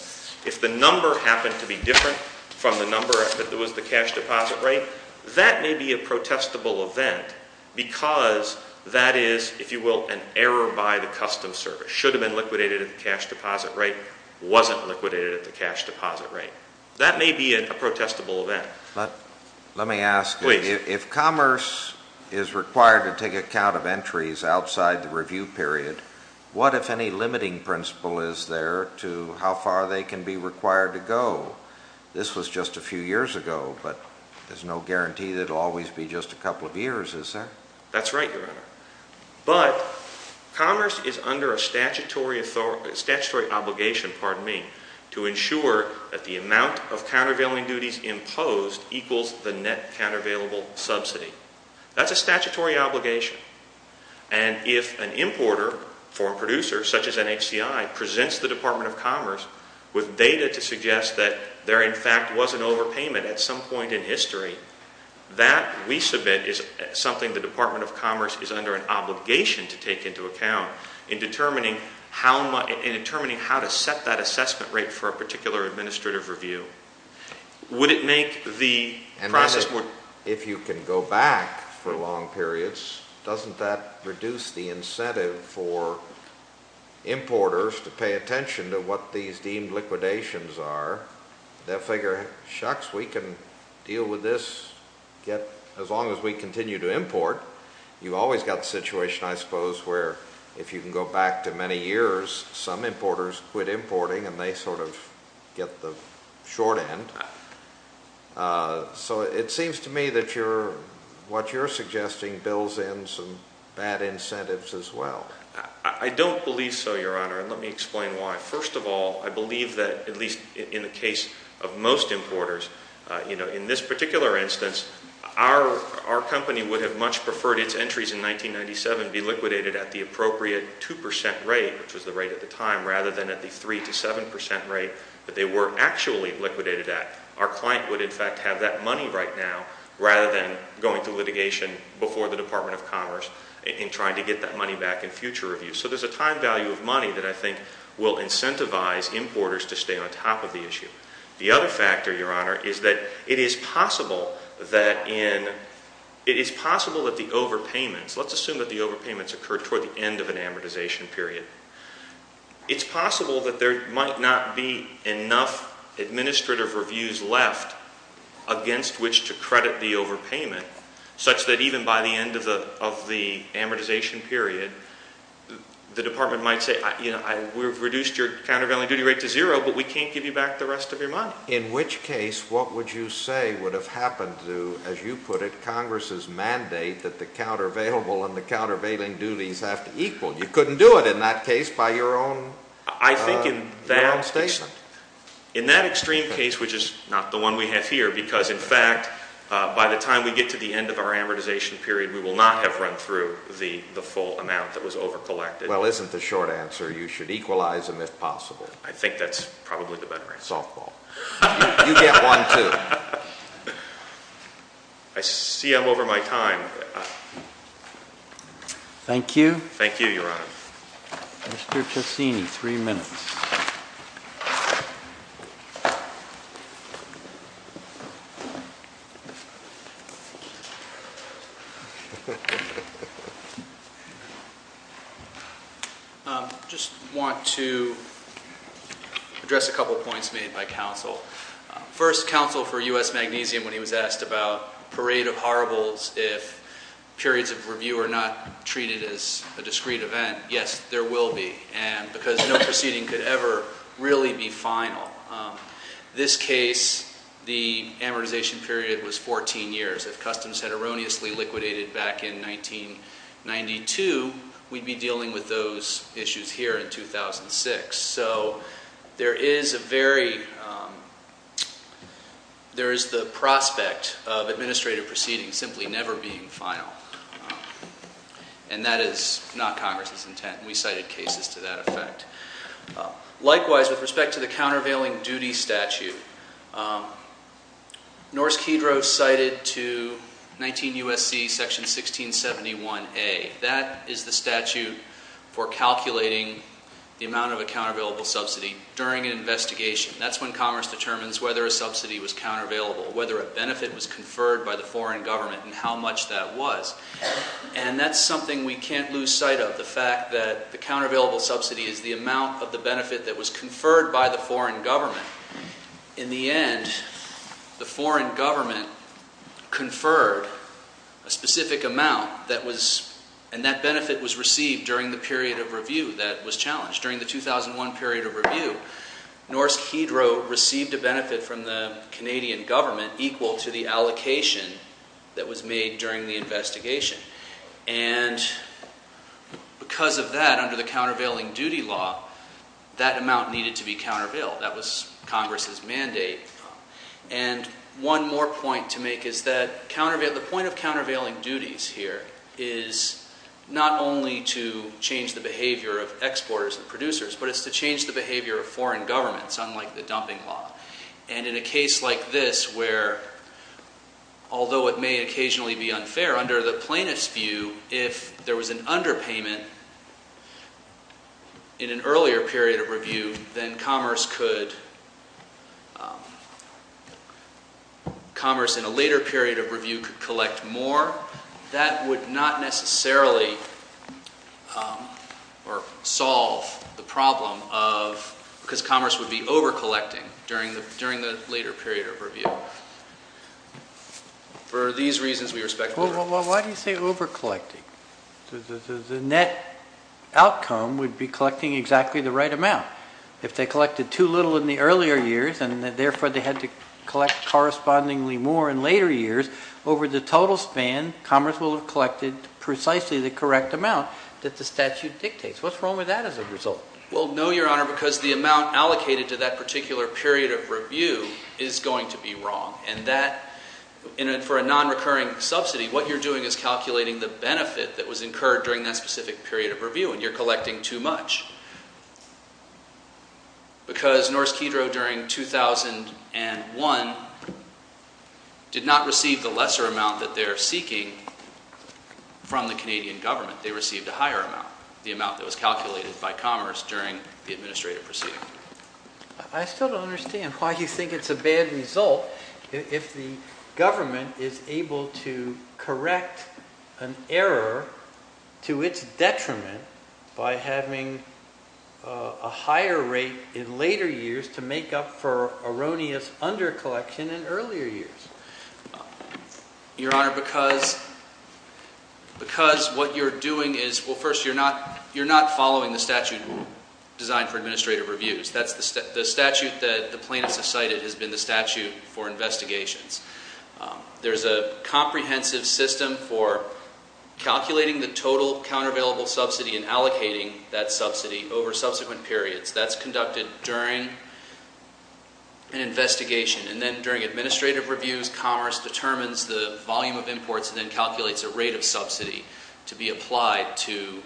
if the number happened to be different from the number that was the cash deposit rate, that may be a protestable event because that is, if you will, an error by the customs service. If it should have been liquidated at the cash deposit rate, wasn't liquidated at the cash deposit rate, that may be a protestable event. Let me ask... Please. If commerce is required to take account of entries outside the review period, what, if any, limiting principle is there to how far they can be required to go? This was just a few years ago, but there's no guarantee that it will always be just a couple of years, is there? That's right, Your Honor. But commerce is under a statutory obligation, pardon me, to ensure that the amount of countervailing duties imposed equals the net countervailable subsidy. That's a statutory obligation. And if an importer, foreign producer, such as NHCI, presents the Department of Commerce with data to suggest that there, in fact, was an overpayment at some point in history, that, we submit, is something the Department of Commerce is under an obligation to take into account in determining how to set that assessment rate for a particular administrative review. Would it make the process more... And if you can go back for long periods, doesn't that reduce the incentive for importers to pay attention to what these deemed liquidations are? That figure, shucks, we can deal with this as long as we continue to import. You've always got the situation, I suppose, where if you can go back to many years, some importers quit importing and they sort of get the short end. So it seems to me that what you're suggesting builds in some bad incentives as well. I don't believe so, Your Honor, and let me explain why. First of all, I believe that, at least in the case of most importers, in this particular instance, our company would have much preferred its entries in 1997 be liquidated at the appropriate 2 percent rate, which was the rate at the time, rather than at the 3 to 7 percent rate that they were actually liquidated at. Our client would, in fact, have that money right now rather than going through litigation before the Department of Commerce in trying to get that money back in future reviews. So there's a time value of money that I think will incentivize importers to stay on top of the issue. The other factor, Your Honor, is that it is possible that the overpayments, let's assume that the overpayments occurred toward the end of an amortization period. It's possible that there might not be enough administrative reviews left against which to credit the overpayment, such that even by the end of the amortization period, the Department might say, you know, we've reduced your countervailing duty rate to zero, but we can't give you back the rest of your money. In which case, what would you say would have happened to, as you put it, Congress's mandate that the countervailable and the countervailing duties have to equal? You couldn't do it in that case by your own statement. I think in that extreme case, which is not the one we have here, because, in fact, by the time we get to the end of our amortization period, we will not have run through the full amount that was overcollected. Well, isn't the short answer you should equalize them if possible? I think that's probably the better answer. Softball. You get one, too. I see I'm over my time. Thank you. Thank you, Your Honor. Mr. Ciacchini, three minutes. I just want to address a couple of points made by counsel. First, counsel for U.S. Magnesium, when he was asked about parade of horribles if periods of review are not treated as a discrete event, yes, there will be, because no proceeding could ever really be final. This case, the amortization period was 14 years. If customs had erroneously liquidated back in 1992, we'd be dealing with those issues here in 2006. So there is the prospect of administrative proceedings simply never being final, and that is not Congress's intent, and we cited cases to that effect. Likewise, with respect to the countervailing duty statute, Norris-Kedrow cited to 19 U.S.C. Section 1671A. That is the statute for calculating the amount of a countervailable subsidy during an investigation. That's when Congress determines whether a subsidy was countervailable, whether a benefit was conferred by the foreign government, and how much that was. And that's something we can't lose sight of, the fact that the countervailable subsidy is the amount of the benefit that was conferred by the foreign government. In the end, the foreign government conferred a specific amount, and that benefit was received during the period of review that was challenged. During the 2001 period of review, Norris-Kedrow received a benefit from the Canadian government equal to the allocation that was made during the investigation. And because of that, under the countervailing duty law, that amount needed to be countervailed. That was Congress's mandate. And one more point to make is that the point of countervailing duties here is not only to change the behavior of exporters and producers, but it's to change the behavior of foreign governments, unlike the dumping law. And in a case like this where, although it may occasionally be unfair, under the plaintiff's view, if there was an underpayment in an earlier period of review, then commerce in a later period of review could collect more. That would not necessarily solve the problem because commerce would be overcollecting during the later period of review. Why do you say overcollecting? The net outcome would be collecting exactly the right amount. If they collected too little in the earlier years, and therefore they had to collect correspondingly more in later years, over the total span, commerce will have collected precisely the correct amount that the statute dictates. What's wrong with that as a result? Well, no, Your Honor, because the amount allocated to that particular period of review is going to be wrong. And that, for a nonrecurring subsidy, what you're doing is calculating the benefit that was incurred during that specific period of review, and you're collecting too much. Because Norse Kedro during 2001 did not receive the lesser amount that they're seeking from the Canadian government. They received a higher amount, the amount that was calculated by commerce during the administrative proceeding. I still don't understand why you think it's a bad result if the government is able to correct an error to its detriment by having a higher rate in later years to make up for erroneous undercollection in earlier years. Your Honor, because what you're doing is, well, first, you're not following the statute designed for administrative reviews. The statute that the plaintiffs have cited has been the statute for investigations. There's a comprehensive system for calculating the total countervailable subsidy and allocating that subsidy over subsequent periods. That's conducted during an investigation. And then during administrative reviews, commerce determines the volume of imports and then calculates a rate of subsidy to be applied to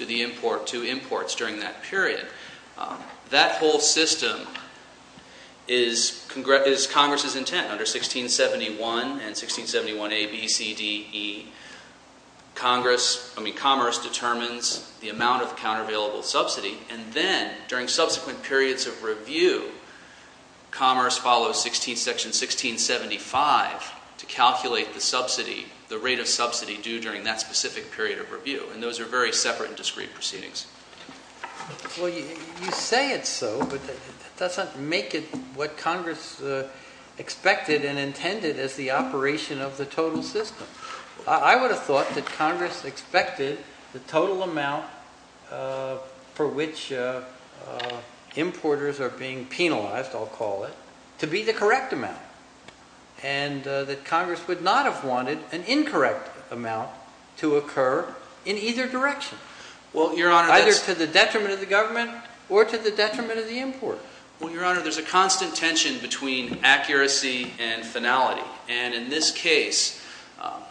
imports during that period. That whole system is Congress's intent. Under 1671 and 1671A, B, C, D, E, commerce determines the amount of the countervailable subsidy. And then during subsequent periods of review, commerce follows Section 1675 to calculate the rate of subsidy due during that specific period of review. And those are very separate and discrete proceedings. Well, you say it's so, but that doesn't make it what Congress expected and intended as the operation of the total system. I would have thought that Congress expected the total amount for which importers are being penalized, I'll call it, to be the correct amount and that Congress would not have wanted an incorrect amount to occur in either direction, either to the detriment of the government or to the detriment of the importer. Well, Your Honor, there's a constant tension between accuracy and finality. And in this case,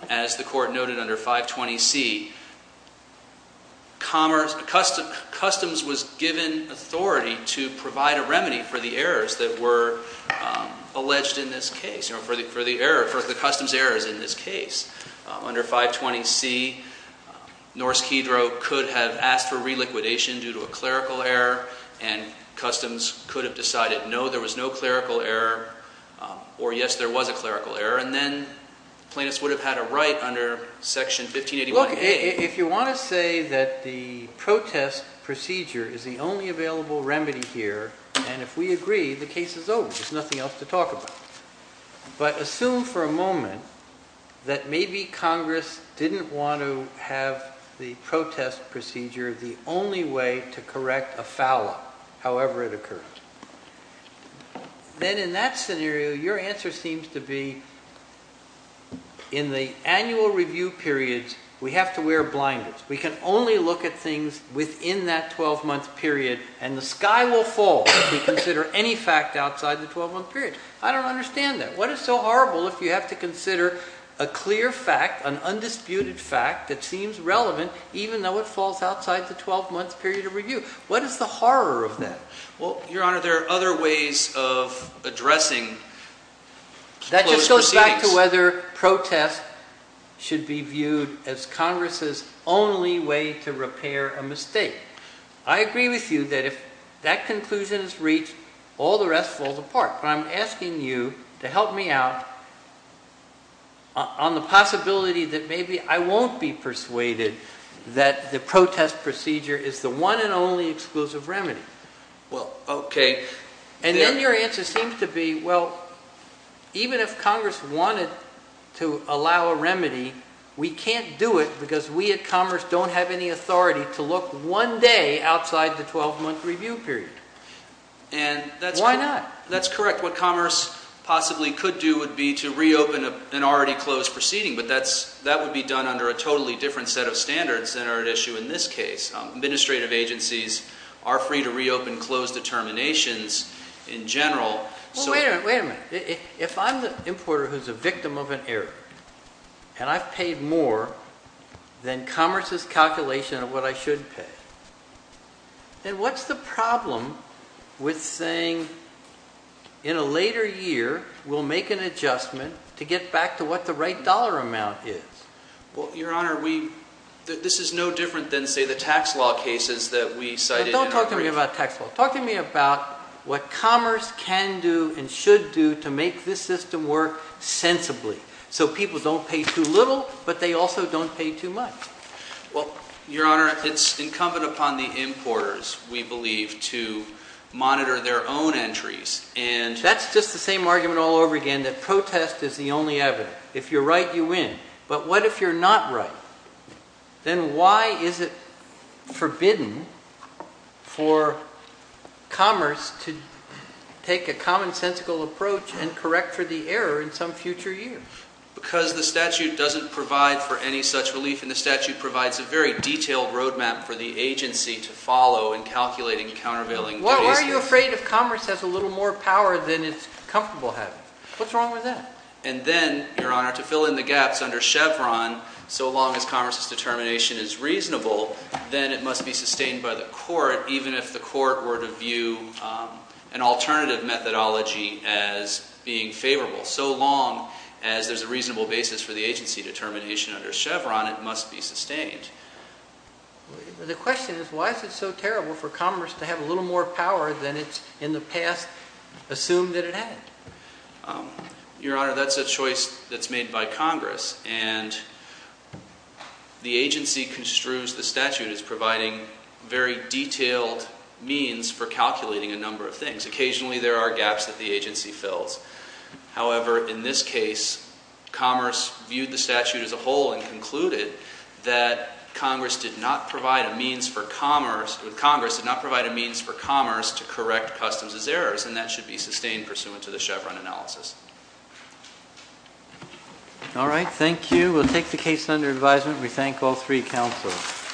as the Court noted under 520C, customs was given authority to provide a remedy for the errors that were alleged in this case, for the customs errors in this case. Under 520C, Norse-Kedro could have asked for reliquidation due to a clerical error and customs could have decided no, there was no clerical error, or yes, there was a clerical error, and then plaintiffs would have had a right under Section 1581A. Look, if you want to say that the protest procedure is the only available remedy here, and if we agree, the case is over. There's nothing else to talk about. But assume for a moment that maybe Congress didn't want to have the protest procedure the only way to correct a foul-up, however it occurred. Then in that scenario, your answer seems to be, in the annual review periods, we have to wear blinders. We can only look at things within that 12-month period, and the sky will fall if we consider any fact outside the 12-month period. I don't understand that. What is so horrible if you have to consider a clear fact, an undisputed fact, that seems relevant even though it falls outside the 12-month period of review? What is the horror of that? Well, Your Honor, there are other ways of addressing closed proceedings. That just goes back to whether protests should be viewed as Congress's only way to repair a mistake. I agree with you that if that conclusion is reached, all the rest falls apart. But I'm asking you to help me out on the possibility that maybe I won't be persuaded that the protest procedure is the one and only exclusive remedy. And then your answer seems to be, well, even if Congress wanted to allow a remedy, we can't do it because we at Congress don't have any authority to look one day outside the 12-month review period. Why not? That's correct. What Commerce possibly could do would be to reopen an already closed proceeding, but that would be done under a totally different set of standards than are at issue in this case. Administrative agencies are free to reopen closed determinations in general. Wait a minute. If I'm the importer who's a victim of an error and I've paid more than Commerce's calculation of what I should pay, then what's the problem with saying in a later year we'll make an adjustment to get back to what the right dollar amount is? Well, Your Honor, this is no different than, say, the tax law cases that we cited in our brief. Don't talk to me about tax law. Talk to me about what Commerce can do and should do to make this system work sensibly so people don't pay too little but they also don't pay too much. Well, Your Honor, it's incumbent upon the importers, we believe, to monitor their own entries and That's just the same argument all over again that protest is the only evidence. If you're right, you win. But what if you're not right? Then why is it forbidden for Commerce to take a commonsensical approach and correct for the error in some future years? Because the statute doesn't provide for any such relief and the statute provides a very detailed road map for the agency to follow in calculating and countervailing. Well, are you afraid if Commerce has a little more power than it's comfortable having? What's wrong with that? And then, Your Honor, to fill in the gaps under Chevron, so long as Commerce's determination is reasonable, then it must be sustained by the court even if the court were to view an alternative methodology as being favorable. So long as there's a reasonable basis for the agency determination under Chevron, it must be sustained. The question is, why is it so terrible for Commerce to have a little more power than it's in the past assumed that it had? Your Honor, that's a choice that's made by Congress. And the agency construes the statute as providing very detailed means for calculating a number of things. Occasionally, there are gaps that the agency fills. However, in this case, Commerce viewed the statute as a whole and concluded that Congress did not provide a means for Commerce to correct Customs' errors, and that should be sustained pursuant to the Chevron analysis. All right, thank you. We'll take the case under advisement. We thank all three counselors.